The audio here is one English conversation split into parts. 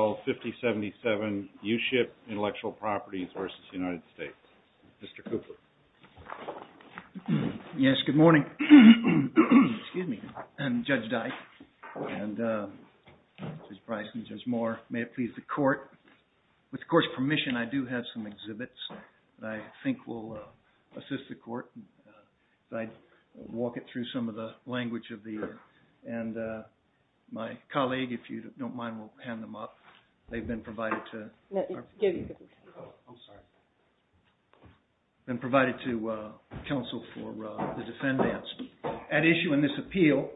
Mr. Cooper. Yes, good morning. Excuse me. I'm Judge Dyke, and Judge Bryson, Judge Moore. May it please the court. With the court's permission, I do have some exhibits that I think will assist the court. I'd walk it through some of the language of the, and my colleague, if you don't mind, will hand them up. They've been provided to counsel for the defendants. At issue in this appeal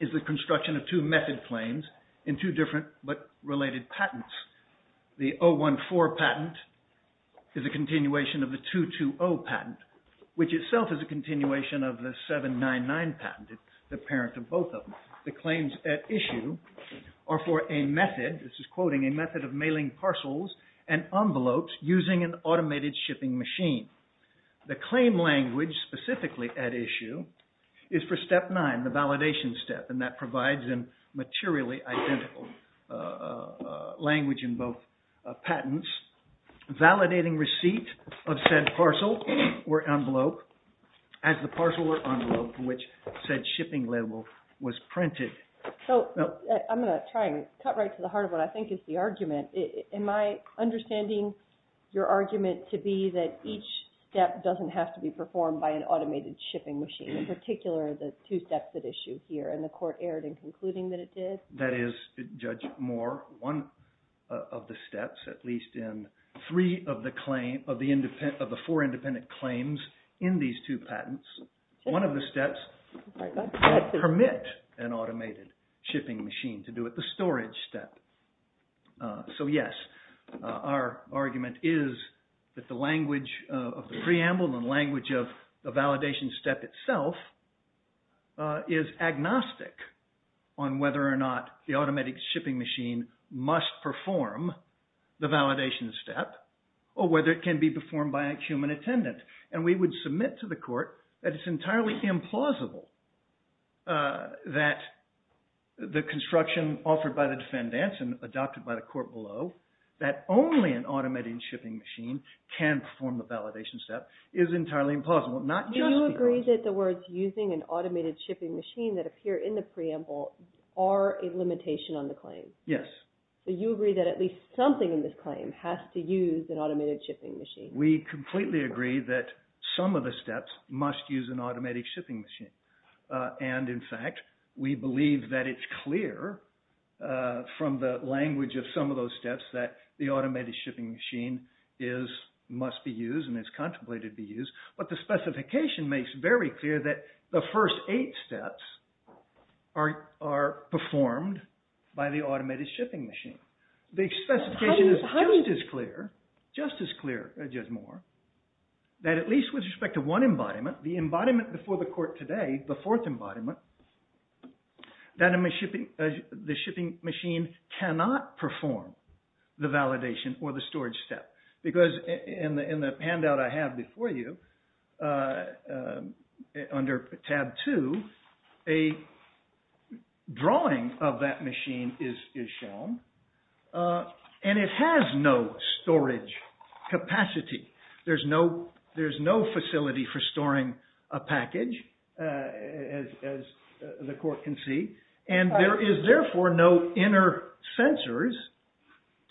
is the construction of two method claims in two different but related patents. The 014 patent is a continuation of the 220 patent, which itself is a continuation of the 799 patent, the parent of both of them. The claims at issue are for a method, this is quoting, a method of mailing parcels and envelopes using an automated shipping machine. The claim language specifically at issue is for step nine, the validation step, and that provides a materially identical language in both patents. Validating receipt of said parcel or envelope as the parcel or envelope for which said shipping label was printed. So I'm going to try and cut right to the heart of what I think is the argument. Am I understanding your argument to be that each step doesn't have to be performed by an automated shipping machine, in particular the two steps at issue here, and the court erred in concluding that it did? That is, Judge Moore, one of the steps, at least in three of the four independent claims in these two patents, one of the steps that permit an automated shipping machine to do it, the storage step. So yes, our argument is that the language of the preamble and the language of the validation step itself is agnostic on whether or not the automatic shipping machine must perform the validation step or whether it can be performed by a human attendant. And we would submit to the court that it's entirely implausible that the construction offered by the defendants and adopted by the court below, that only an automated shipping machine can perform the validation step, is entirely implausible, not just because— Do you agree that the words using an automated shipping machine that appear in the preamble are a limitation on the claim? Yes. Do you agree that at least something in this claim has to use an automated shipping machine? We completely agree that some of the steps must use an automated shipping machine. And in fact, we believe that it's clear from the language of some of those steps that the automated shipping machine must be used and is contemplated to be used. But the specification makes very clear that the first eight steps are performed by the automated shipping machine. The specification is just as clear, just as clear, Judge Moore, that at least with respect to one embodiment, the embodiment before the court today, the fourth embodiment, that the shipping machine cannot perform the validation or the storage step. Because in the handout I have before you, under tab two, a drawing of that machine is shown, and it has no storage capacity. There's no facility for storing a package, as the court can see. And there is therefore no inner sensors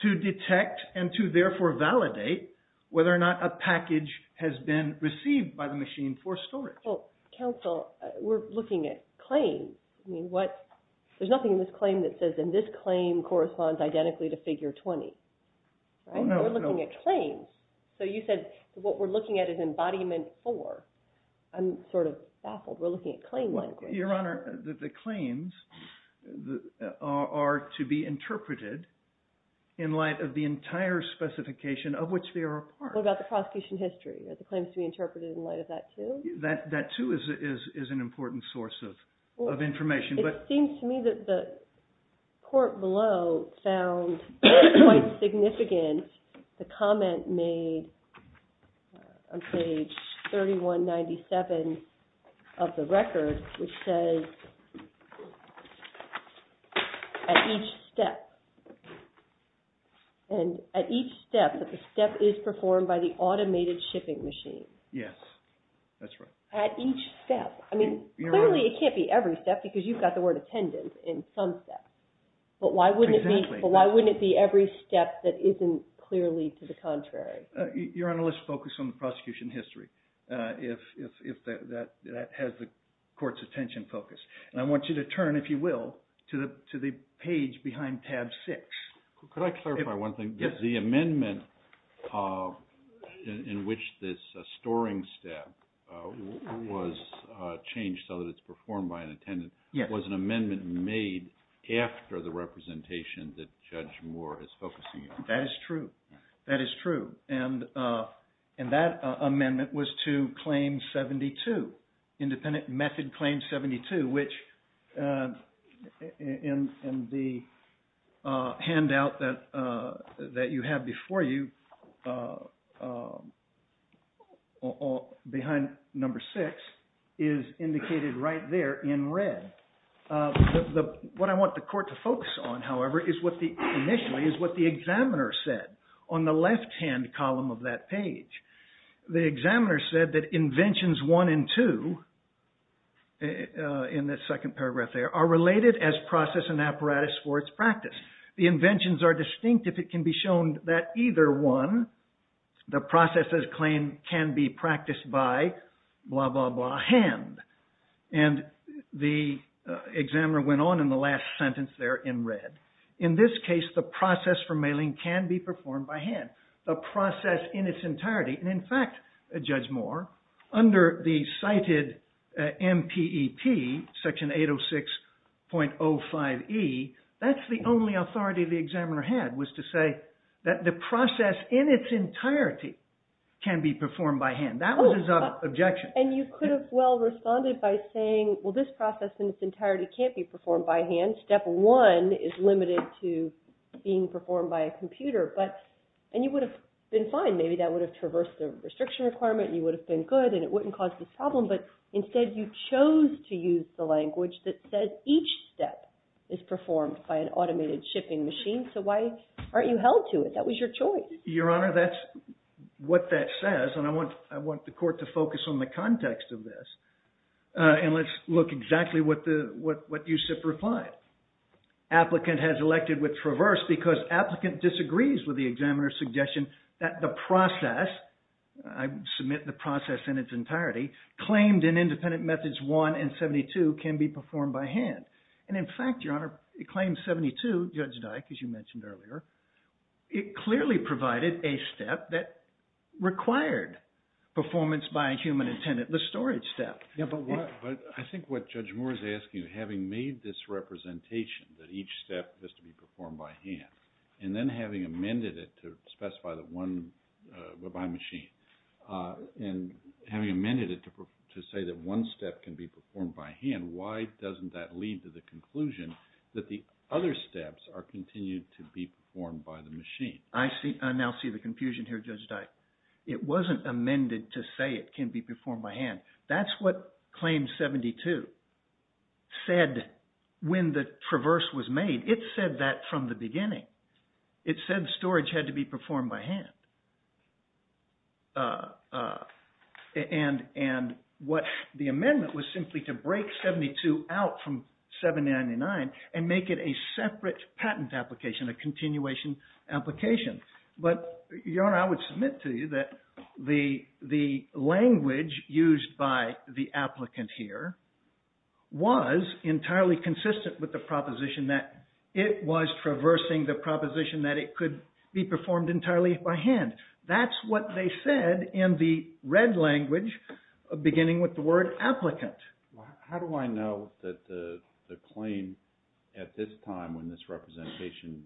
to detect and to therefore validate whether or not a package has been received by the machine for storage. Well, counsel, we're looking at claims. I mean, there's nothing in this claim that says, and this claim corresponds identically to figure 20. We're looking at claims. So you said what we're looking at is embodiment four. I'm sort of baffled. We're looking at claim language. Your Honor, the claims are to be interpreted in light of the entire specification of which they are required. What about the prosecution history? Are the claims to be interpreted in light of that, too? That, too, is an important source of information. It seems to me that the court below found quite significant the comment made on page 3197 of the record, which says, at each step. And at each step, that the step is performed by the automated shipping machine. Yes, that's right. At each step. I mean, clearly it can't be every step, because you've got the word attendance in some steps. But why wouldn't it be every step that isn't clearly to the contrary? Your Honor, let's focus on the prosecution history, if that has the court's attention focus. And I want you to turn, if you will, to the page behind tab 6. Could I clarify one thing? Yes. The amendment in which this storing step was changed so that it's performed by an attendant was an amendment made after the representation that Judge Moore is focusing on. That is true. That is true. And that amendment was to claim 72, independent method claim 72, which in the handout that you have before you, behind number 6, is indicated right there in red. What I want the court to focus on, however, is what the examiner said on the left-hand column of that page. The examiner said that inventions 1 and 2, in the second paragraph there, are related as process and apparatus for its practice. The inventions are distinct if it can be shown that either one, the process as claimed, can be practiced by blah, blah, blah, hand. And the examiner went on in the last sentence there in red. In this case, the process for mailing can be performed by hand. The process in its entirety. And in fact, Judge Moore, under the cited MPEP, Section 806.05e, that's the only authority the examiner had, was to say that the process in its entirety can be performed by hand. That was his objection. And you could have well responded by saying, well, this process in its entirety can't be performed by hand. Step one is limited to being performed by a computer. And you would have been fine. Maybe that would have traversed the restriction requirement and you would have been good and it wouldn't cause this problem. But instead, you chose to use the language that says each step is performed by an automated shipping machine. So why aren't you held to it? That was your choice. Your Honor, that's what that says. And I want the court to focus on the context of this. And let's look exactly what USIP replied. Applicant has elected with traverse because applicant disagrees with the examiner's suggestion that the process, I submit the process in its entirety, claimed in Independent Methods 1 and 72 can be performed by hand. And in fact, Your Honor, it claims 72, Judge Dyke, as you mentioned earlier. It clearly provided a step that required performance by a human attendant, the storage step. But I think what Judge Moore is asking, having made this representation that each step is to be performed by hand, and then having amended it to specify that one by machine, and having amended it to say that one step can be performed by hand, why doesn't that lead to the conclusion that the other steps are continued to be performed by the machine? I now see the confusion here, Judge Dyke. It wasn't amended to say it can be performed by hand. That's what Claim 72 said when the traverse was made. It said that from the beginning. It said storage had to be performed by hand. And the amendment was simply to break 72 out from 799 and make it a separate patent application, a continuation application. But Your Honor, I would submit to you that the language used by the applicant here was entirely consistent with the proposition that it was traversing the proposition that it could be performed entirely by hand. That's what they said in the red language beginning with the word applicant. How do I know that the claim at this time when this representation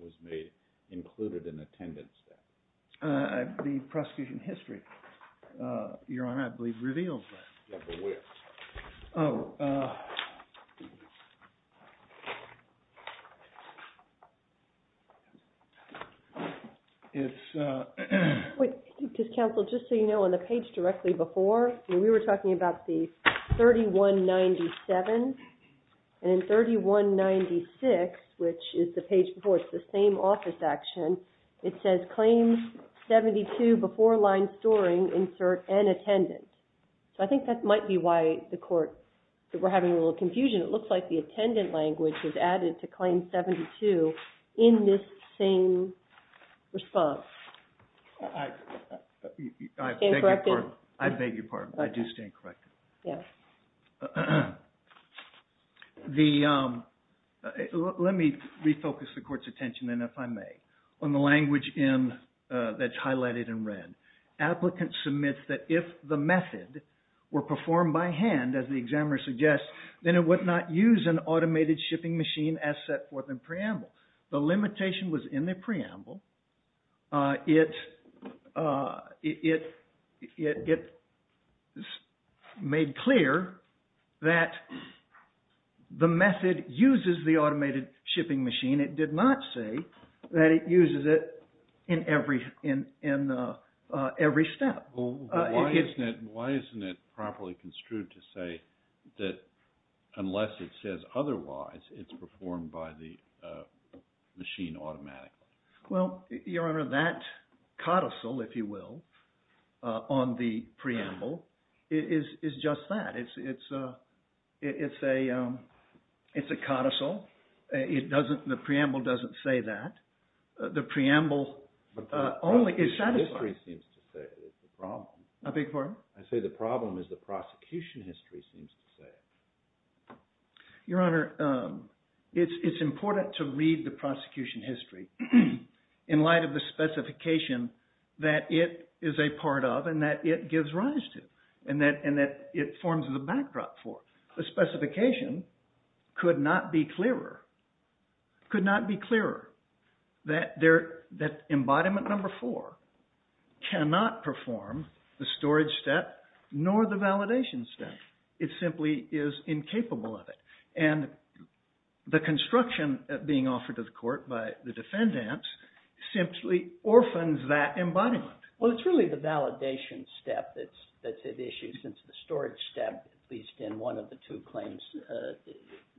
was made included an attendant step? The prosecution history, Your Honor, I believe reveals that. Yeah, but where? Oh. Counsel, just so you know, on the page directly before, we were talking about the 3197. And 3196, which is the page before, it's the same office action. It says Claim 72 before line storing, insert an attendant. So I think that might be why the court, we're having a little confusion. It looks like the attendant language was added to Claim 72 in this same response. I beg your pardon. I do stand corrected. Yeah. Let me refocus the court's attention then if I may on the language that's highlighted in red. Applicant submits that if the method were performed by hand, as the examiner suggests, then it would not use an automated shipping machine as set forth in preamble. The limitation was in the preamble. It made clear that the method uses the automated shipping machine. It did not say that it uses it in every step. Why isn't it properly construed to say that unless it says otherwise, it's performed by the machine automatically? Well, Your Honor, that codicil, if you will, on the preamble is just that. It's a codicil. The preamble doesn't say that. The preamble only is satisfied. But the prosecution history seems to say it's a problem. I beg your pardon? I say the problem is the prosecution history seems to say it. Your Honor, it's important to read the prosecution history in light of the specification that it is a part of and that it gives rise to and that it forms the backdrop for. The specification could not be clearer that embodiment number four cannot perform the storage step nor the validation step. It simply is incapable of it. And the construction being offered to the court by the defendants simply orphans that embodiment. Well, it's really the validation step that's at issue since the storage step, at least in one of the two claims,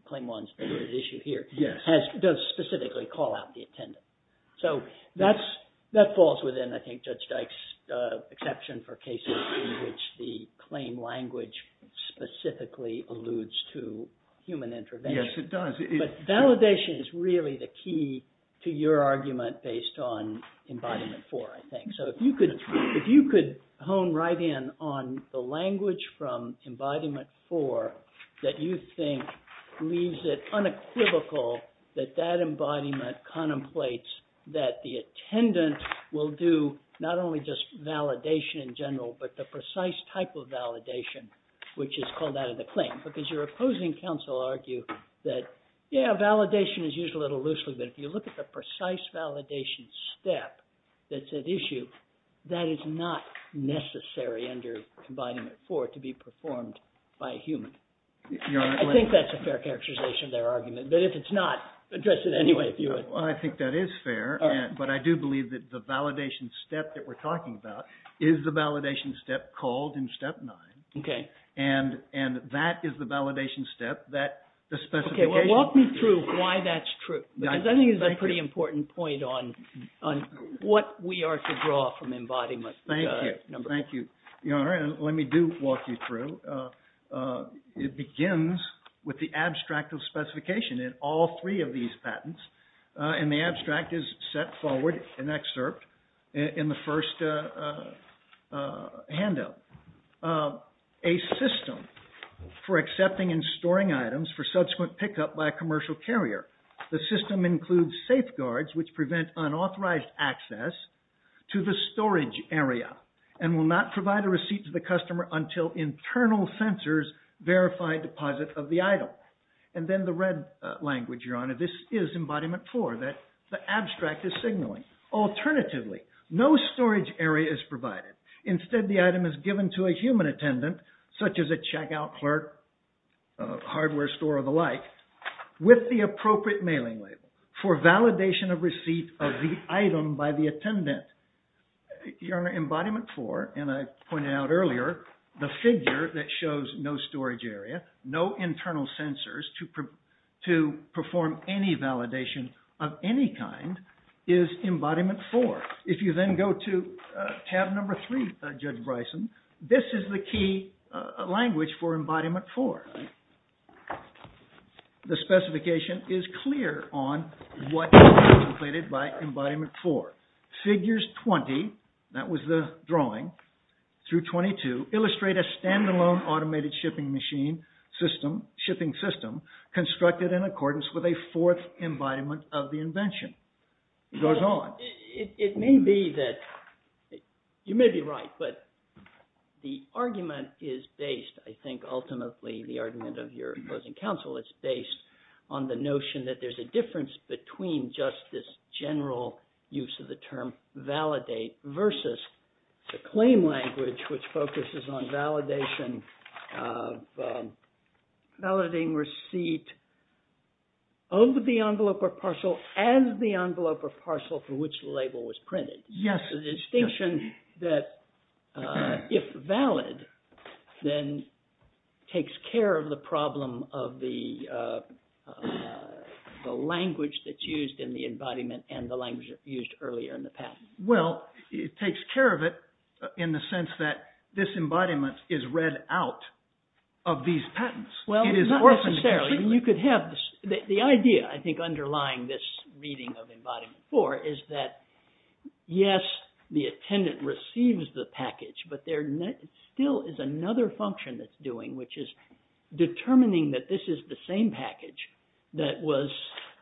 claim one's at issue here, does specifically call out the attendant. So that falls within, I think, Judge Dyke's exception for cases in which the claim language specifically alludes to human intervention. Yes, it does. But validation is really the key to your argument based on embodiment four, I think. So if you could hone right in on the language from embodiment four that you think leaves it unequivocal that that embodiment contemplates that the attendant will do not only just validation in general, but the precise type of validation, which is called out of the claim. Because your opposing counsel argue that, yeah, validation is used a little loosely. But if you look at the precise validation step that's at issue, that is not necessary under embodiment four to be performed by a human. I think that's a fair characterization of their argument. But if it's not, address it anyway if you would. Well, I think that is fair. But I do believe that the validation step that we're talking about is the validation step called in step nine. And that is the validation step. Walk me through why that's true. Because I think it's a pretty important point on what we are to draw from embodiment number four. Thank you, Your Honor. And let me do walk you through. It begins with the abstract of specification in all three of these patents. And the abstract is set forward in excerpt in the first handout. A system for accepting and storing items for subsequent pickup by a commercial carrier. The system includes safeguards which prevent unauthorized access to the storage area and will not provide a receipt to the customer until internal sensors verify deposit of the item. And then the red language, Your Honor, this is embodiment four. The abstract is signaling. Instead, the item is given to a human attendant, such as a checkout clerk, hardware store, or the like, with the appropriate mailing label for validation of receipt of the item by the attendant. Your Honor, embodiment four, and I pointed out earlier, the figure that shows no storage area, no internal sensors to perform any validation of any kind is embodiment four. If you then go to tab number three, Judge Bryson, this is the key language for embodiment four. The specification is clear on what is contemplated by embodiment four. Figures 20, that was the drawing, through 22 illustrate a standalone automated shipping machine system, shipping system, constructed in accordance with a fourth embodiment of the invention. It goes on. It may be that, you may be right, but the argument is based, I think, ultimately, the argument of your opposing counsel is based on the notion that there's a difference between just this general use of the term validate versus the claim language, which focuses on validation, validating receipt of the envelope or parcel as the envelope or parcel for which the label was printed. Yes. The distinction that, if valid, then takes care of the problem of the language that's used in the embodiment and the language used earlier in the past. Well, it takes care of it in the sense that this embodiment is read out of these patents. Well, not necessarily. You could have this. The idea, I think, underlying this reading of embodiment four is that, yes, the attendant receives the package, but there still is another function that's doing, which is determining that this is the same package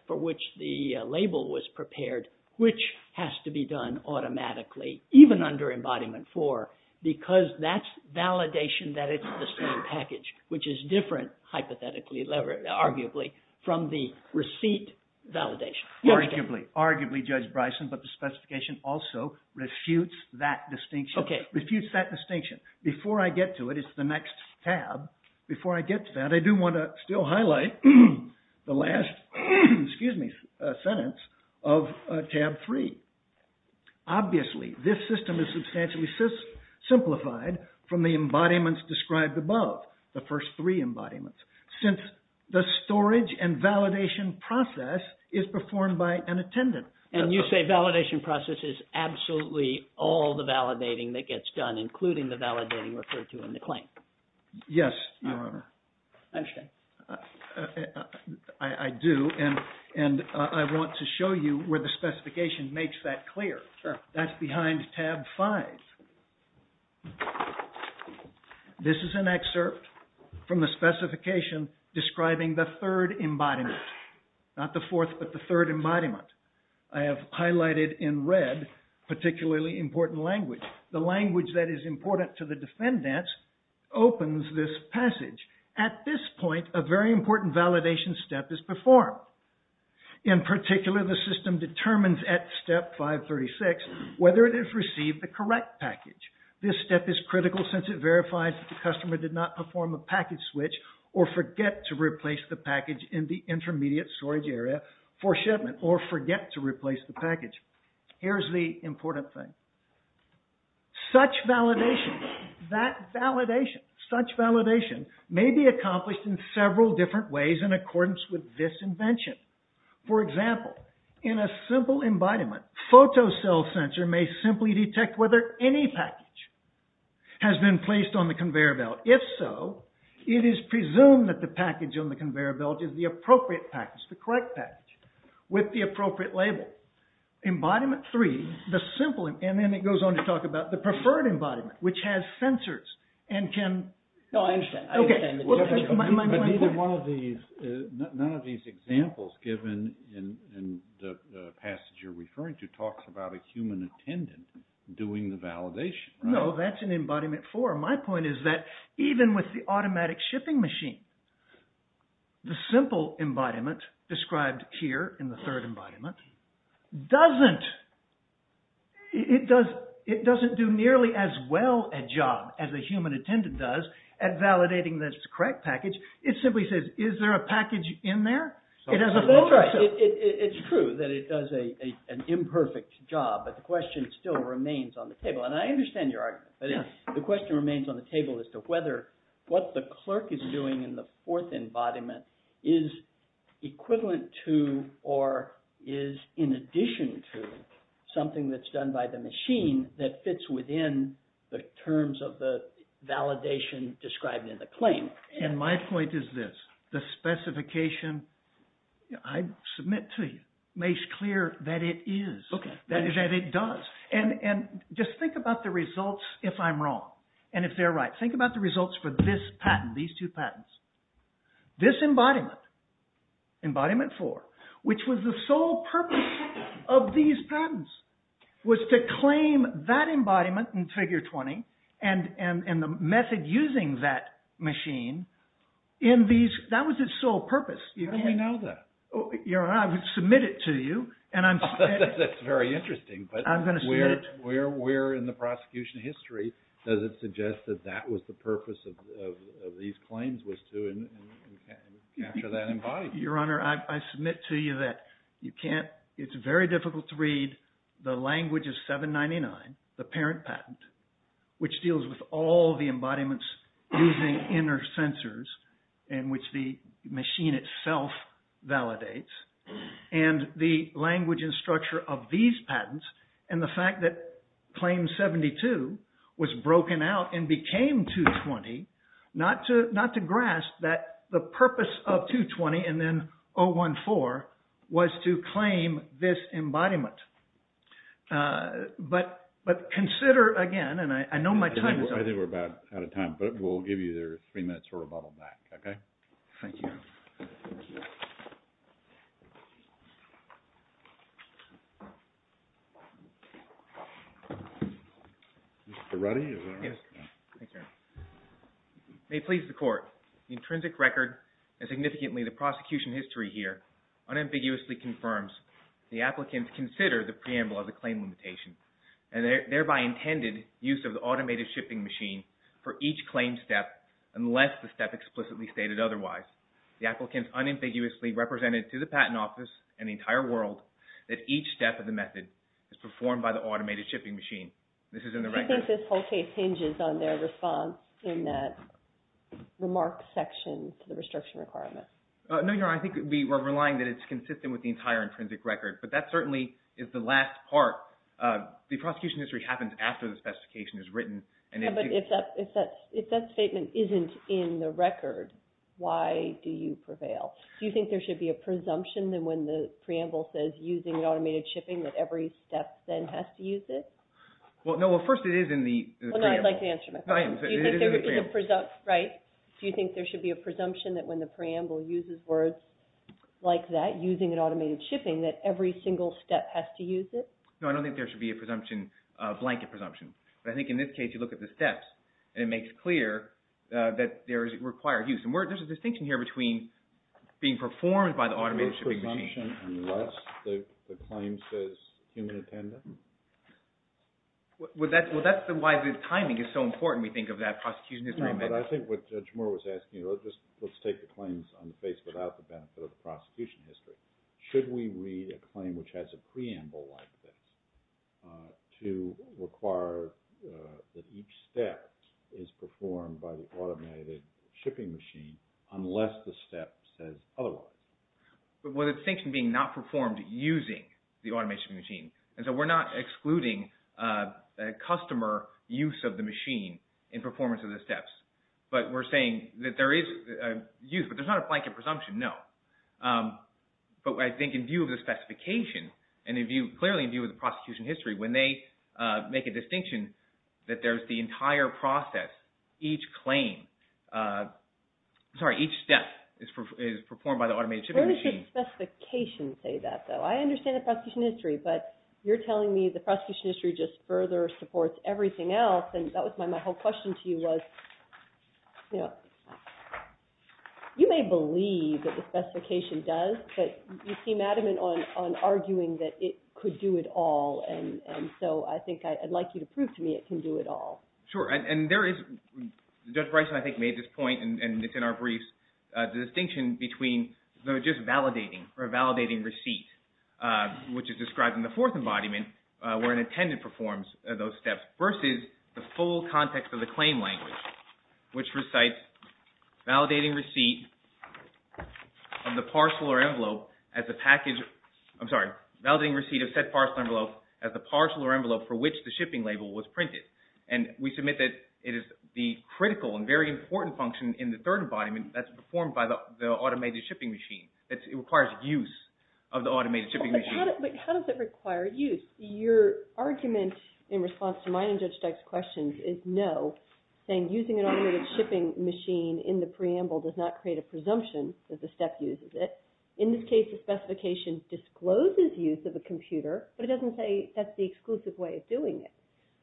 for which the label was prepared, which has to be done automatically, even under embodiment four, because that's validation that it's the same package, which is different, hypothetically, arguably, from the receipt validation. Arguably. Arguably, Judge Bryson, but the specification also refutes that distinction. Okay. Before I get to it, it's the next tab. Before I get to that, I do want to still highlight the last, excuse me, sentence of tab three. Obviously, this system is substantially simplified from the embodiments described above, the first three embodiments, since the storage and validation process is performed by an attendant. And you say validation process is absolutely all the validating that gets done, including the validating referred to in the claim. Yes, Your Honor. I understand. I do, and I want to show you where the specification makes that clear. Sure. That's behind tab five. This is an excerpt from the specification describing the third embodiment. Not the fourth, but the third embodiment. I have highlighted in red particularly important language. The language that is important to the defendants opens this passage. At this point, a very important validation step is performed. In particular, the system determines at step 536 whether it has received the correct package. This step is critical since it verifies that the customer did not perform a package switch or forget to replace the package in the intermediate storage area for shipment or forget to replace the package. Here's the important thing. Such validation, that validation, such validation may be accomplished in several different ways in accordance with this invention. For example, in a simple embodiment, photocell sensor may simply detect whether any package has been placed on the conveyor belt. If so, it is presumed that the package on the conveyor belt is the appropriate package, the correct package, with the appropriate label. Embodiment three, the simple embodiment, and then it goes on to talk about the preferred embodiment, which has sensors and can... No, I understand. Okay. But neither one of these, none of these examples given in the passage you're referring to talks about a human attendant doing the validation. No, that's in embodiment four. My point is that even with the automatic shipping machine, the simple embodiment described here in the third embodiment doesn't, it doesn't do nearly as well a job as a human attendant does at validating this correct package. It simply says, is there a package in there? It has a photocell. It's true that it does an imperfect job, but the question still remains on the table. And I understand your argument, but the question remains on the table as to whether what the clerk is doing in the fourth embodiment is equivalent to or is in addition to something that's done by the machine that fits within the terms of the validation described in the claim. And my point is this. The specification, I submit to you, makes clear that it is. Okay. That it does. And just think about the results if I'm wrong, and if they're right. Think about the results for this patent, these two patents. This embodiment, embodiment four, which was the sole purpose of these patents, was to claim that embodiment in figure 20 and the method using that machine in these, that was its sole purpose. How do we know that? Your Honor, I would submit it to you. That's very interesting. I'm going to submit it to you. But where in the prosecution history does it suggest that that was the purpose of these claims was to capture that embodiment? Your Honor, I submit to you that you can't, it's very difficult to read the language of 799, the parent patent, which deals with all the embodiments using inner sensors in which the machine itself validates. And the language and structure of these patents, and the fact that claim 72 was broken out and became 220, not to grasp that the purpose of 220 and then 014 was to claim this embodiment. But consider, again, and I know my time is up. I think we're about out of time, but we'll give you three minutes for rebuttal back. Okay? Thank you. Mr. Ruddy, is that all right? Yes. Thank you, Your Honor. May it please the Court, the intrinsic record and significantly the prosecution history here unambiguously confirms the applicants consider the preamble as a claim limitation and thereby intended use of the automated shipping machine for each claim step unless the step explicitly stated otherwise. The applicants unambiguously represented to the patent office and the entire world that each step of the method is performed by the automated shipping machine. This is in the record. Do you think this whole case hinges on their response in that remark section to the restriction requirement? No, Your Honor. I think we're relying that it's consistent with the entire intrinsic record. But that certainly is the last part. The prosecution history happens after the specification is written. But if that statement isn't in the record, why do you prevail? Do you think there should be a presumption that when the preamble says using an automated shipping that every step then has to use it? Well, no. Well, first it is in the preamble. I'd like to answer my question. It is in the preamble. Right. Do you think there should be a presumption that when the preamble uses words like that, using an automated shipping, that every single step has to use it? No, I don't think there should be a presumption, a blanket presumption. But I think in this case, you look at the steps, and it makes clear that there is a required use. And there's a distinction here between being performed by the automated shipping machine. There's a presumption unless the claim says human attendant? Well, that's why the timing is so important, we think, of that prosecution history amendment. No, but I think what Judge Moore was asking, let's take the claims on the face without the benefit of the prosecution history. Should we read a claim which has a preamble like this to require that each step is performed by the automated shipping machine unless the step says otherwise? Well, the distinction being not performed using the automated shipping machine. And so we're not excluding a customer use of the machine in performance of the steps. But we're saying that there is a use, but there's not a blanket presumption, no. But I think in view of the specification, and clearly in view of the prosecution history, when they make a distinction that there's the entire process, each step is performed by the automated shipping machine. Where does the specification say that, though? I understand the prosecution history, but you're telling me the prosecution history just further supports everything else. And that was my whole question to you was, you know, you may believe that the specification does, but you seem adamant on arguing that it could do it all, and so I think I'd like you to prove to me it can do it all. Sure, and there is, Judge Bryson I think made this point, and it's in our briefs, the distinction between just validating or validating receipt, which is described in the fourth embodiment, where an attendant performs those steps, versus the full context of the claim language, which recites validating receipt of the parcel or envelope as the package, I'm sorry, validating receipt of said parcel envelope as the parcel or envelope for which the shipping label was printed. And we submit that it is the critical and very important function in the third embodiment that's performed by the automated shipping machine, that it requires use of the automated shipping machine. But how does it require use? Your argument in response to mine and Judge Dyke's questions is no, saying using an automated shipping machine in the preamble does not create a presumption that the step uses it. In this case, the specification discloses use of a computer, but it doesn't say that's the exclusive way of doing it.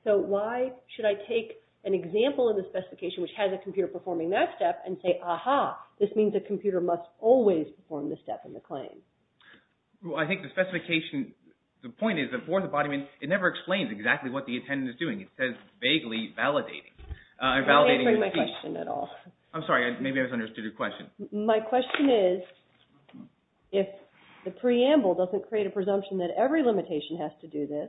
So why should I take an example of the specification which has a computer performing that step and say, aha, this means the computer must always perform the step in the claim. Well, I think the specification, the point is the fourth embodiment, it never explains exactly what the attendant is doing. It says vaguely validating. I'm not answering my question at all. I'm sorry, maybe I misunderstood your question. My question is, if the preamble doesn't create a presumption that every limitation has to do this,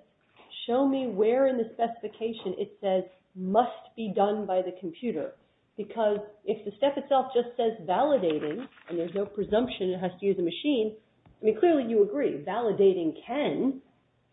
show me where in the specification it says must be done by the computer. Because if the step itself just says validating and there's no presumption it has to use a machine, I mean, clearly you agree validating can,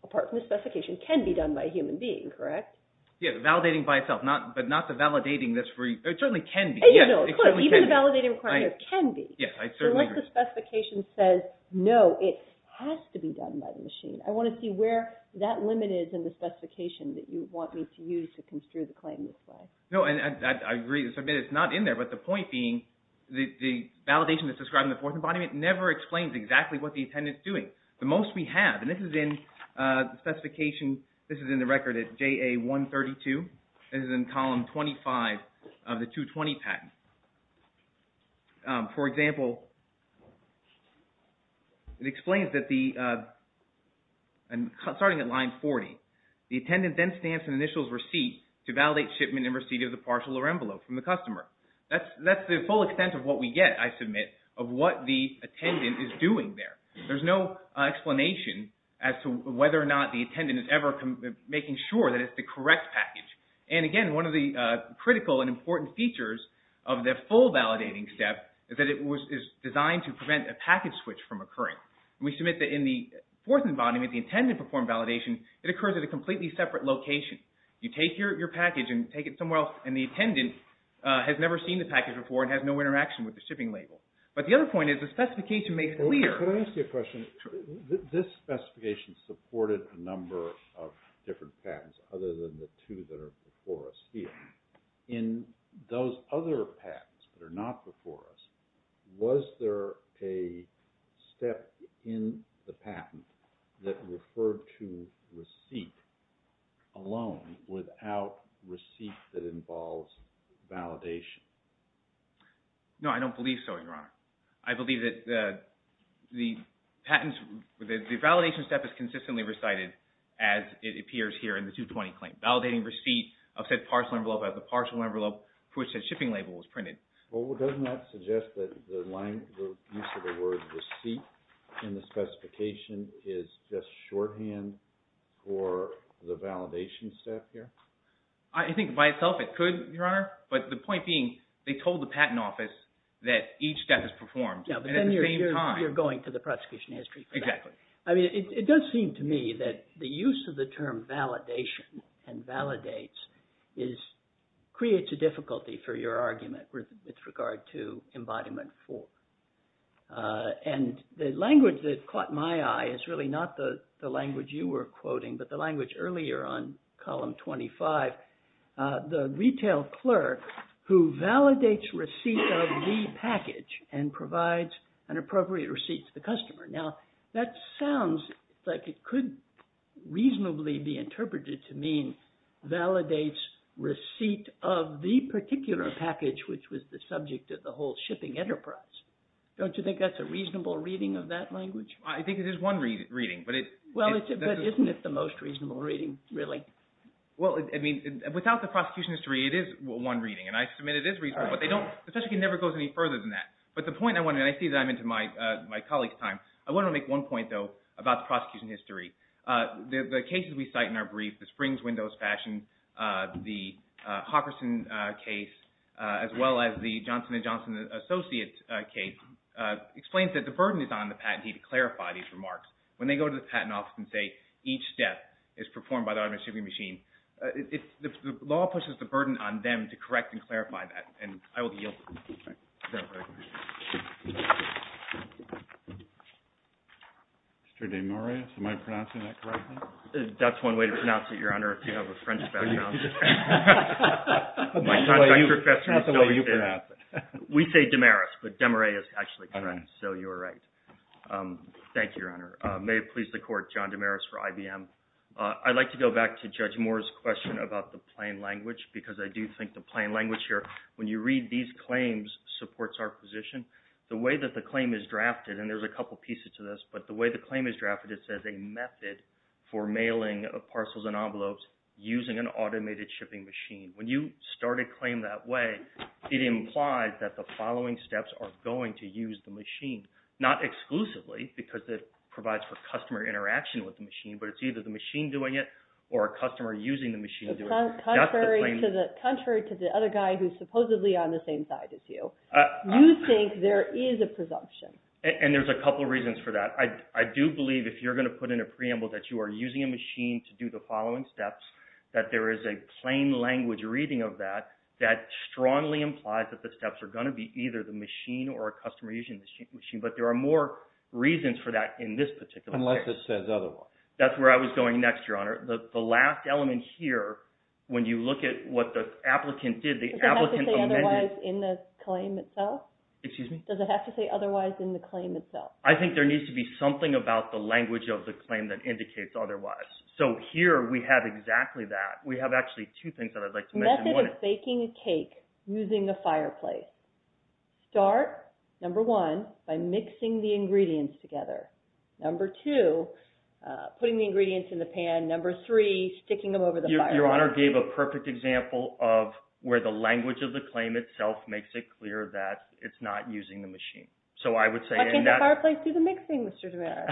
apart from the specification, can be done by a human being, correct? Yeah, validating by itself, but not the validating that's free. It certainly can be. Even the validating requirement can be. Yes, I certainly agree. Unless the specification says, no, it has to be done by the machine. I want to see where that limit is in the specification that you want me to use to construe the claim this way. No, I agree. It's not in there, but the point being the validation that's described in the fourth embodiment never explains exactly what the attendant is doing. The most we have, and this is in the specification, this is in the record at JA 132. This is in column 25 of the 220 patent. For example, it explains that the, starting at line 40, the attendant then stands in initials receipt to validate shipment and receipt of the partial or envelope from the customer. That's the full extent of what we get, I submit, of what the attendant is doing there. There's no explanation as to whether or not the attendant is ever making sure that it's the correct package. And again, one of the critical and important features of the full validating step is that it is designed to prevent a package switch from occurring. We submit that in the fourth embodiment, the attendant performed validation. It occurs at a completely separate location. You take your package and take it somewhere else, and the attendant has never seen the package before and has no interaction with the shipping label. But the other point is the specification makes clear. Can I ask you a question? Sure. This specification supported a number of different patents other than the two that are before us here. In those other patents that are not before us, was there a step in the patent that referred to receipt alone without receipt that involves validation? No, I don't believe so, Your Honor. I believe that the validation step is consistently recited as it appears here in the 220 claim. Validating receipt of said parcel envelope as the parcel envelope for which the shipping label was printed. Well, doesn't that suggest that the use of the word receipt in the specification is just shorthand for the validation step here? I think by itself it could, Your Honor, but the point being they told the patent office that each step is performed and at the same time. Yeah, but then you're going to the prosecution history for that. Exactly. It does seem to me that the use of the term validation and validates creates a difficulty for your argument with regard to embodiment four. And the language that caught my eye is really not the language you were quoting, but the language earlier on column 25. The retail clerk who validates receipt of the package and provides an appropriate receipt to the customer. Now, that sounds like it could reasonably be interpreted to mean validates receipt of the particular package, which was the subject of the whole shipping enterprise. Don't you think that's a reasonable reading of that language? I think it is one reading, but it's – Well, but isn't it the most reasonable reading, really? Well, I mean, without the prosecution history, it is one reading, and I submit it is reasonable, but they don't – especially because it never goes any further than that. But the point I want to – and I see that I'm into my colleague's time. I want to make one point, though, about the prosecution history. The cases we cite in our brief, the Springs Windows fashion, the Hawkerson case, as well as the Johnson & Johnson associate case, explains that the burden is on the patentee to clarify these remarks. When they go to the patent office and say each step is performed by the automated shipping machine, the law pushes the burden on them to correct and clarify that, and I will yield. Mr. DeMaurais, am I pronouncing that correctly? That's one way to pronounce it, Your Honor, if you have a French background. That's not the way you pronounce it. We say DeMaurais, but DeMaurais is actually French, so you are right. Thank you, Your Honor. May it please the Court, John DeMaurais for IBM. I'd like to go back to Judge Moore's question about the plain language because I do think the plain language here, when you read these claims, supports our position. The way that the claim is drafted, and there's a couple pieces to this, but the way the claim is drafted, it says a method for mailing of parcels and envelopes using an automated shipping machine. When you start a claim that way, it implies that the following steps are going to use the machine, not exclusively because it provides for customer interaction with the machine, but it's either the machine doing it or a customer using the machine doing it. Contrary to the other guy who's supposedly on the same side as you, you think there is a presumption. And there's a couple reasons for that. I do believe if you're going to put in a preamble that you are using a machine to do the following steps, that there is a plain language reading of that, that strongly implies that the steps are going to be either the machine or a customer using the machine. But there are more reasons for that in this particular case. Unless it says otherwise. That's where I was going next, Your Honor. The last element here, when you look at what the applicant did, the applicant amended… Does it have to say otherwise in the claim itself? Excuse me? Does it have to say otherwise in the claim itself? I think there needs to be something about the language of the claim that indicates otherwise. So here we have exactly that. We have actually two things that I'd like to mention. Method of baking a cake using a fireplace. Start, number one, by mixing the ingredients together. Number two, putting the ingredients in the pan. Number three, sticking them over the fireplace. Your Honor gave a perfect example of where the language of the claim itself makes it clear that it's not using the machine. So I would say in that… Why can't the fireplace do the mixing, Mr. DeMeyer?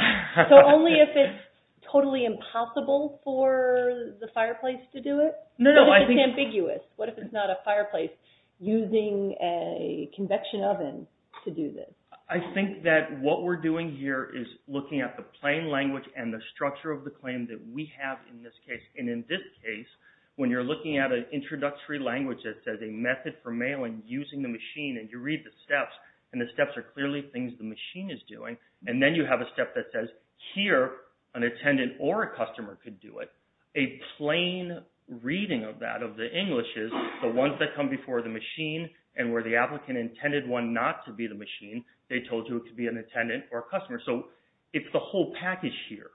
So only if it's totally impossible for the fireplace to do it? No, no, I think… What if it's ambiguous? What if it's not a fireplace using a convection oven to do this? I think that what we're doing here is looking at the plain language and the structure of the claim that we have in this case. And in this case, when you're looking at an introductory language that says a method for mailing using the machine, and you read the steps, and the steps are clearly things the machine is doing, and then you have a step that says here an attendant or a customer could do it, a plain reading of that, of the Englishes, the ones that come before the machine, and where the applicant intended one not to be the machine, they told you it could be an attendant or a customer. So it's the whole package here.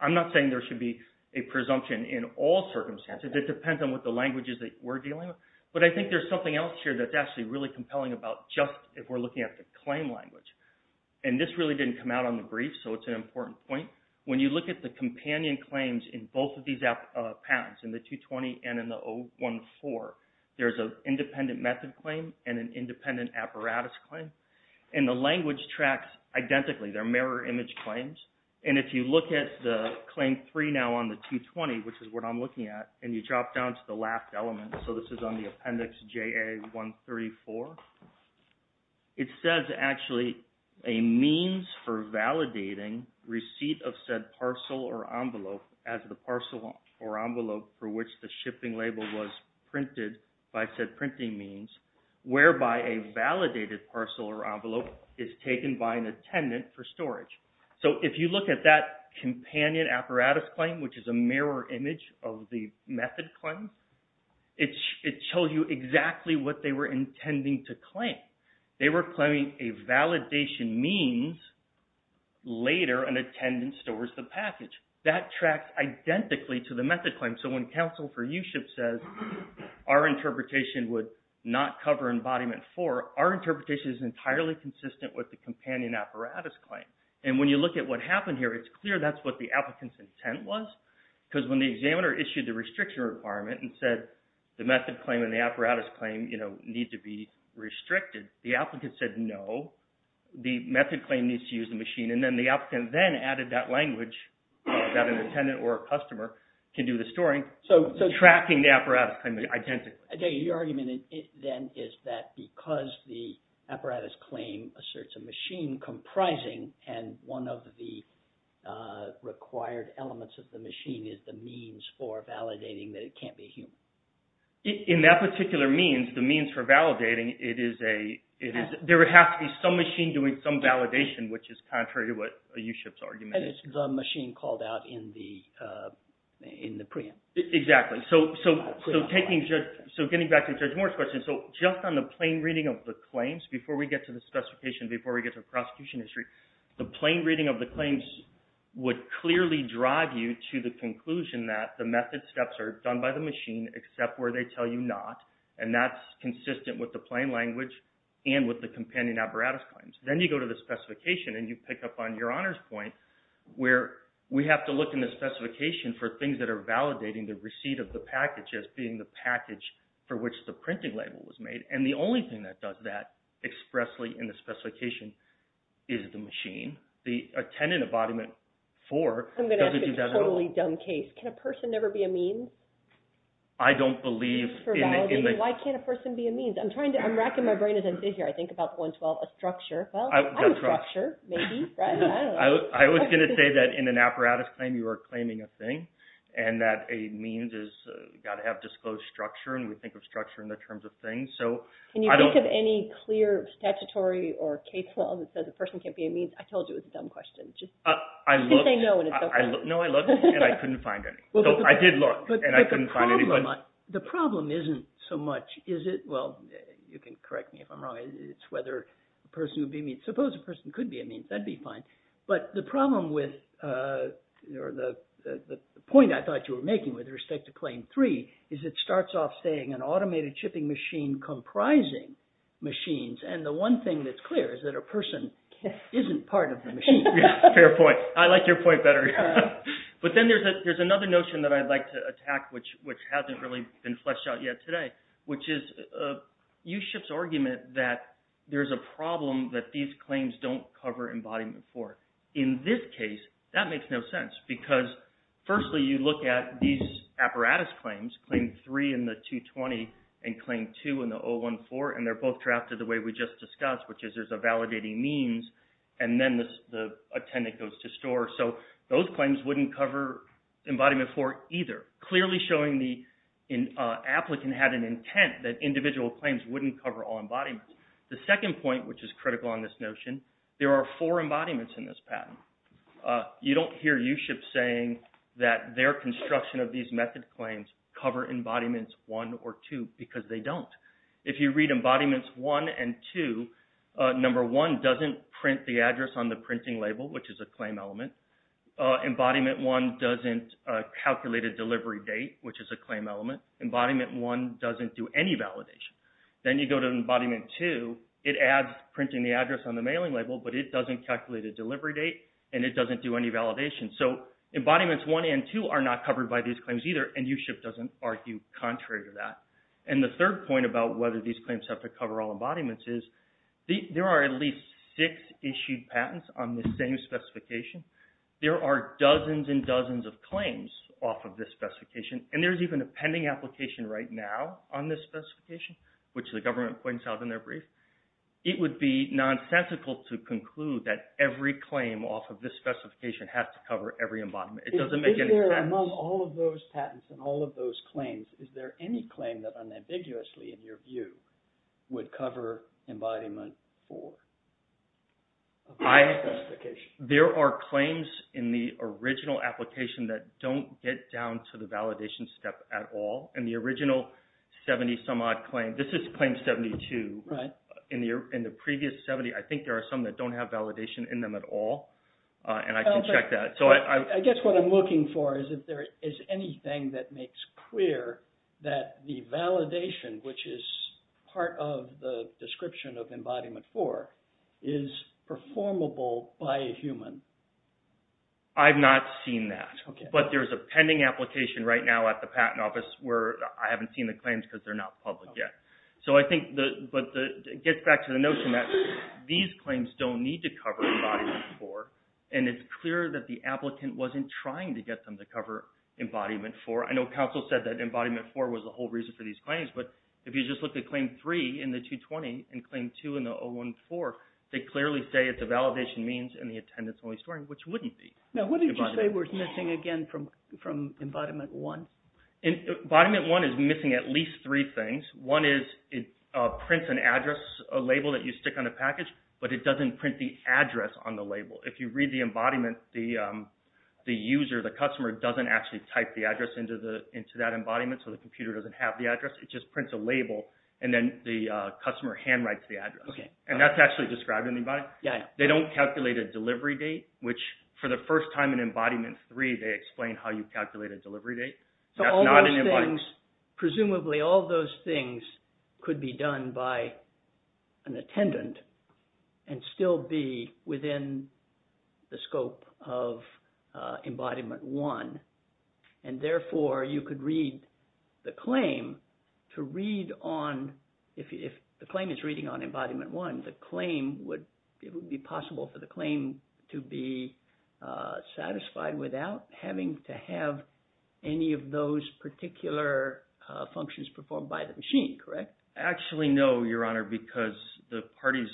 I'm not saying there should be a presumption in all circumstances. It depends on what the language is that we're dealing with. But I think there's something else here that's actually really compelling about just if we're looking at the claim language. And this really didn't come out on the brief, so it's an important point. When you look at the companion claims in both of these patents, in the 220 and in the 014, there's an independent method claim and an independent apparatus claim. And the language tracks identically. They're mirror image claims. And if you look at the claim three now on the 220, which is what I'm looking at, and you drop down to the last element, so this is on the appendix JA-134, it says actually a means for validating receipt of said parcel or envelope as the parcel or envelope for which the shipping label was printed by said printing means, whereby a validated parcel or envelope is taken by an attendant for storage. So if you look at that companion apparatus claim, which is a mirror image of the method claim, it shows you exactly what they were intending to claim. They were claiming a validation means later an attendant stores the package. That tracks identically to the method claim. So when counsel for USHIP says our interpretation would not cover embodiment four, our interpretation is entirely consistent with the companion apparatus claim. And when you look at what happened here, it's clear that's what the applicant's intent was. Because when the examiner issued the restriction requirement and said the method claim and the apparatus claim need to be restricted, the applicant said no, the method claim needs to use the machine. And then the applicant then added that language that an attendant or a customer can do the storing, tracking the apparatus claim identically. So your argument then is that because the apparatus claim asserts a machine comprising, and one of the required elements of the machine is the means for validating that it can't be human. In that particular means, the means for validating, it is a – there would have to be some machine doing some validation, which is contrary to what USHIP's argument is. And it's the machine called out in the preempt. Exactly. So taking – so getting back to Judge Moore's question. So just on the plain reading of the claims, before we get to the specification, before we get to the prosecution history, the plain reading of the claims would clearly drive you to the conclusion that the method steps are done by the machine, except where they tell you not. And that's consistent with the plain language and with the companion apparatus claims. Then you go to the specification and you pick up on your honor's point, where we have to look in the specification for things that are validating the receipt of the package as being the package for which the printing label was made. And the only thing that does that expressly in the specification is the machine. The attendant embodiment for doesn't do that at all. I'm going to ask a totally dumb case. Can a person never be a means? I don't believe in the – For validating. Why can't a person be a means? I'm trying to – I'm racking my brain as I sit here. I think about the 112, a structure. Well, I'm a structure, maybe. I was going to say that in an apparatus claim you are claiming a thing, and that a means has got to have disclosed structure, and we think of structure in the terms of things. Can you think of any clear statutory or case law that says a person can't be a means? I told you it was a dumb question. I looked. You can say no and it's okay. No, I looked and I couldn't find any. I did look and I couldn't find any. The problem isn't so much is it – well, you can correct me if I'm wrong. It's whether a person would be a means. Suppose a person could be a means. That would be fine. But the problem with – or the point I thought you were making with respect to Claim 3 is it starts off saying an automated chipping machine comprising machines, and the one thing that's clear is that a person isn't part of the machine. Fair point. I like your point better. But then there's another notion that I'd like to attack, which hasn't really been fleshed out yet today, which is USHIP's argument that there's a problem that these claims don't cover Embodiment 4. In this case, that makes no sense because, firstly, you look at these apparatus claims, Claim 3 in the 220 and Claim 2 in the 014, and they're both drafted the way we just discussed, which is there's a validating means, and then a tenant goes to store. So those claims wouldn't cover Embodiment 4 either, clearly showing the applicant had an intent that individual claims wouldn't cover all embodiments. The second point, which is critical on this notion, there are four embodiments in this patent. You don't hear USHIP saying that their construction of these method claims cover Embodiments 1 or 2 because they don't. If you read Embodiments 1 and 2, Number 1 doesn't print the address on the printing label, which is a claim element. Embodiment 1 doesn't calculate a delivery date, which is a claim element. Embodiment 1 doesn't do any validation. Then you go to Embodiment 2, it adds printing the address on the mailing label, but it doesn't calculate a delivery date, and it doesn't do any validation. So Embodiments 1 and 2 are not covered by these claims either, and USHIP doesn't argue contrary to that. And the third point about whether these claims have to cover all embodiments is there are at least six issued patents on this same specification. There are dozens and dozens of claims off of this specification, and there's even a pending application right now on this specification, which the government points out in their brief. It would be nonsensical to conclude that every claim off of this specification has to cover every embodiment. It doesn't make any sense. If they're among all of those patents and all of those claims, is there any claim that unambiguously, in your view, would cover Embodiment 4? There are claims in the original application that don't get down to the validation step at all. In the original 70-some-odd claim, this is Claim 72. In the previous 70, I think there are some that don't have validation in them at all, and I can check that. I guess what I'm looking for is if there is anything that makes clear that the validation, which is part of the description of Embodiment 4, is performable by a human. I've not seen that, but there's a pending application right now at the Patent Office where I haven't seen the claims because they're not public yet. But it gets back to the notion that these claims don't need to cover Embodiment 4, and it's clear that the applicant wasn't trying to get them to cover Embodiment 4. I know counsel said that Embodiment 4 was the whole reason for these claims, but if you just look at Claim 3 in the 220 and Claim 2 in the 014, they clearly say it's a validation means and the attendance-only story, which wouldn't be. Now, what did you say was missing again from Embodiment 1? Embodiment 1 is missing at least three things. One is it prints an address label that you stick on the package, but it doesn't print the address on the label. If you read the embodiment, the user, the customer, doesn't actually type the address into that embodiment, so the computer doesn't have the address. It just prints a label, and then the customer handwrites the address, and that's actually described in the embodiment. They don't calculate a delivery date, which for the first time in Embodiment 3, they explain how you calculate a delivery date. Presumably, all those things could be done by an attendant and still be within the scope of Embodiment 1, and therefore, you could read the claim to read on. If the claim is reading on Embodiment 1, it would be possible for the claim to be satisfied without having to have any of those particular functions performed by the machine, correct? Actually, no, Your Honor, because the parties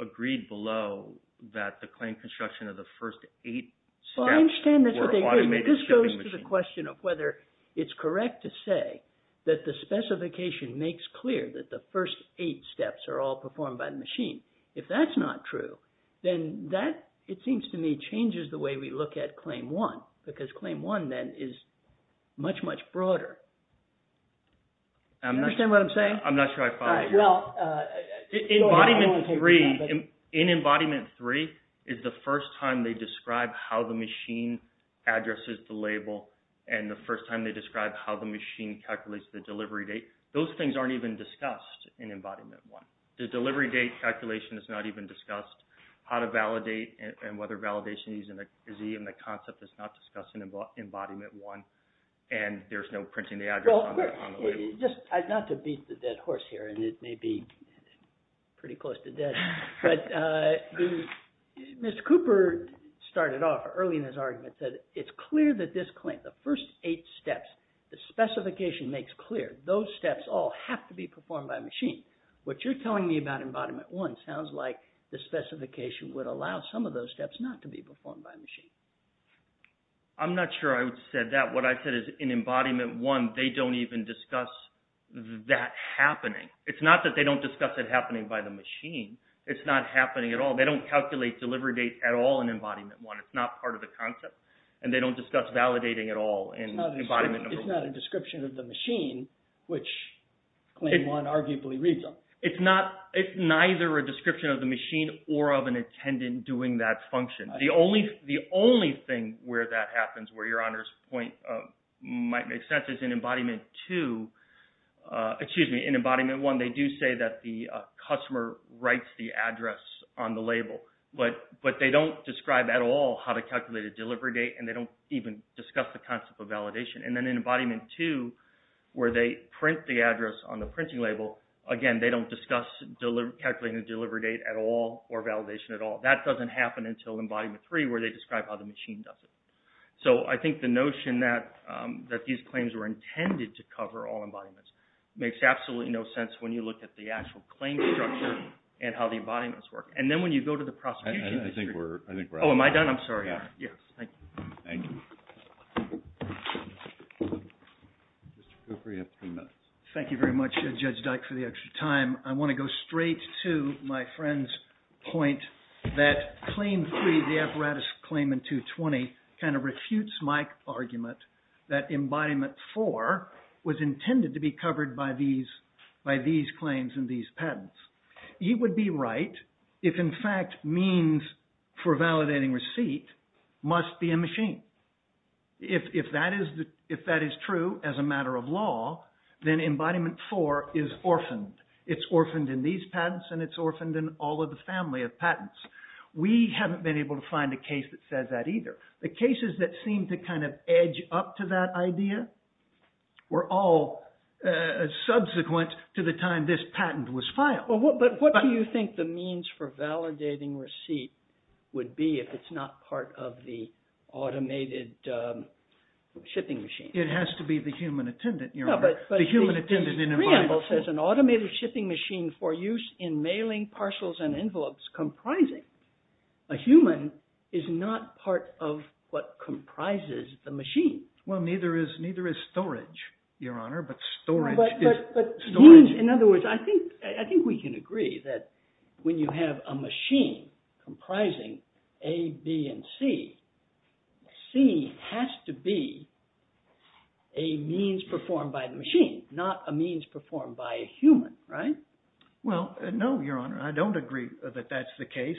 agreed below that the claim construction of the first eight steps were automated by the machine. I understand that this goes to the question of whether it's correct to say that the specification makes clear that the first eight steps are all performed by the machine. If that's not true, then that, it seems to me, changes the way we look at Claim 1, because Claim 1, then, is much, much broader. Do you understand what I'm saying? I'm not sure I follow you. In Embodiment 3, it's the first time they describe how the machine addresses the label, and the first time they describe how the machine calculates the delivery date. Those things aren't even discussed in Embodiment 1. The delivery date calculation is not even discussed. How to validate and whether validation is easy in the concept is not discussed in Embodiment 1, and there's no printing the address on the label. Not to beat the dead horse here, and it may be pretty close to dead, but Mr. Cooper started off early in his argument that it's clear that this claim, the first eight steps, the specification makes clear those steps all have to be performed by a machine. What you're telling me about Embodiment 1 sounds like the specification would allow some of those steps not to be performed by a machine. I'm not sure I would have said that. What I said is in Embodiment 1, they don't even discuss that happening. It's not that they don't discuss it happening by the machine. It's not happening at all. They don't calculate delivery date at all in Embodiment 1. It's not part of the concept, and they don't discuss validating at all in Embodiment 1. It's not a description of the machine, which Claim 1 arguably reads on. It's neither a description of the machine or of an attendant doing that function. The only thing where that happens, where Your Honor's point might make sense, is in Embodiment 2, excuse me, in Embodiment 1, they do say that the customer writes the address on the label, but they don't describe at all how to calculate a delivery date, and they don't even discuss the concept of validation. And then in Embodiment 2, where they print the address on the printing label, again, they don't discuss calculating the delivery date at all or validation at all. That doesn't happen until Embodiment 3, where they describe how the machine does it. So I think the notion that these claims were intended to cover all embodiments makes absolutely no sense when you look at the actual claim structure and how the embodiments work. And then when you go to the prosecution, I think we're out. Oh, am I done? I'm sorry. Yes, thank you. Thank you. Mr. Cooper, you have three minutes. Thank you very much, Judge Dyke, for the extra time. I want to go straight to my friend's point that Claim 3, the apparatus claim in 220 kind of refutes my argument that Embodiment 4 was intended to be covered by these claims and these patents. He would be right if, in fact, means for validating receipt must be a machine. If that is true as a matter of law, then Embodiment 4 is orphaned. It's orphaned in these patents and it's orphaned in all of the family of patents. We haven't been able to find a case that says that either. The cases that seem to kind of edge up to that idea were all subsequent to the time when this patent was filed. But what do you think the means for validating receipt would be if it's not part of the automated shipping machine? It has to be the human attendant, Your Honor. The human attendant in Embodiment 4. The preamble says an automated shipping machine for use in mailing parcels and envelopes comprising a human is not part of what comprises the machine. Well, neither is storage, Your Honor, but storage is storage. In other words, I think we can agree that when you have a machine comprising A, B, and C, C has to be a means performed by the machine, not a means performed by a human, right? Well, no, Your Honor. I don't agree that that's the case.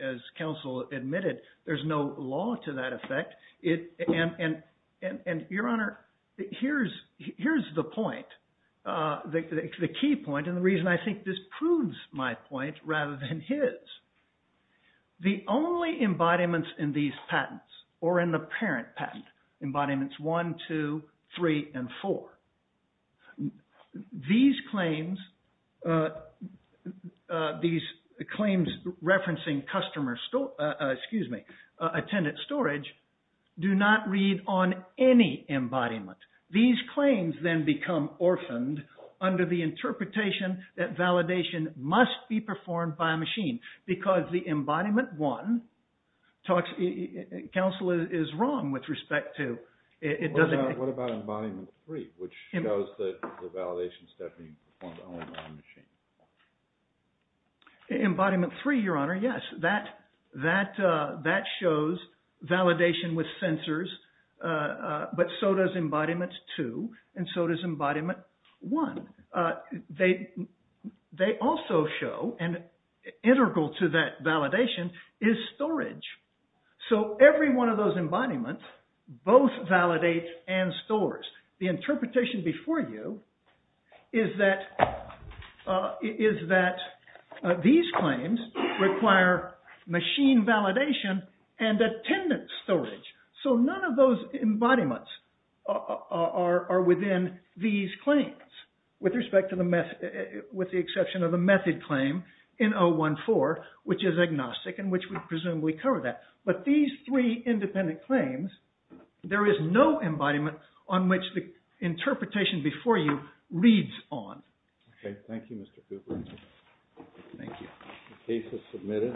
As counsel admitted, there's no law to that effect. And, Your Honor, here's the point, the key point, and the reason I think this proves my point rather than his. The only embodiments in these patents or in the parent patent, Embodiments 1, 2, 3, and 4, these claims referencing customer, excuse me, attendant storage, do not read on any embodiment. These claims then become orphaned under the interpretation that validation must be performed by a machine because the Embodiment 1 talks, counsel is wrong with respect to, What about Embodiment 3, which shows the validation step being performed only by a machine? Embodiment 3, Your Honor, yes. That shows validation with sensors, but so does Embodiment 2, and so does Embodiment 1. They also show, and integral to that validation is storage. So every one of those embodiments both validate and stores. The interpretation before you is that these claims require machine validation and attendant storage. So none of those embodiments are within these claims with the exception of the method claim in 014, which is agnostic and which would presumably cover that. But these three independent claims, there is no embodiment on which the interpretation before you reads on. Okay, thank you, Mr. Cooper. Thank you. The case is submitted.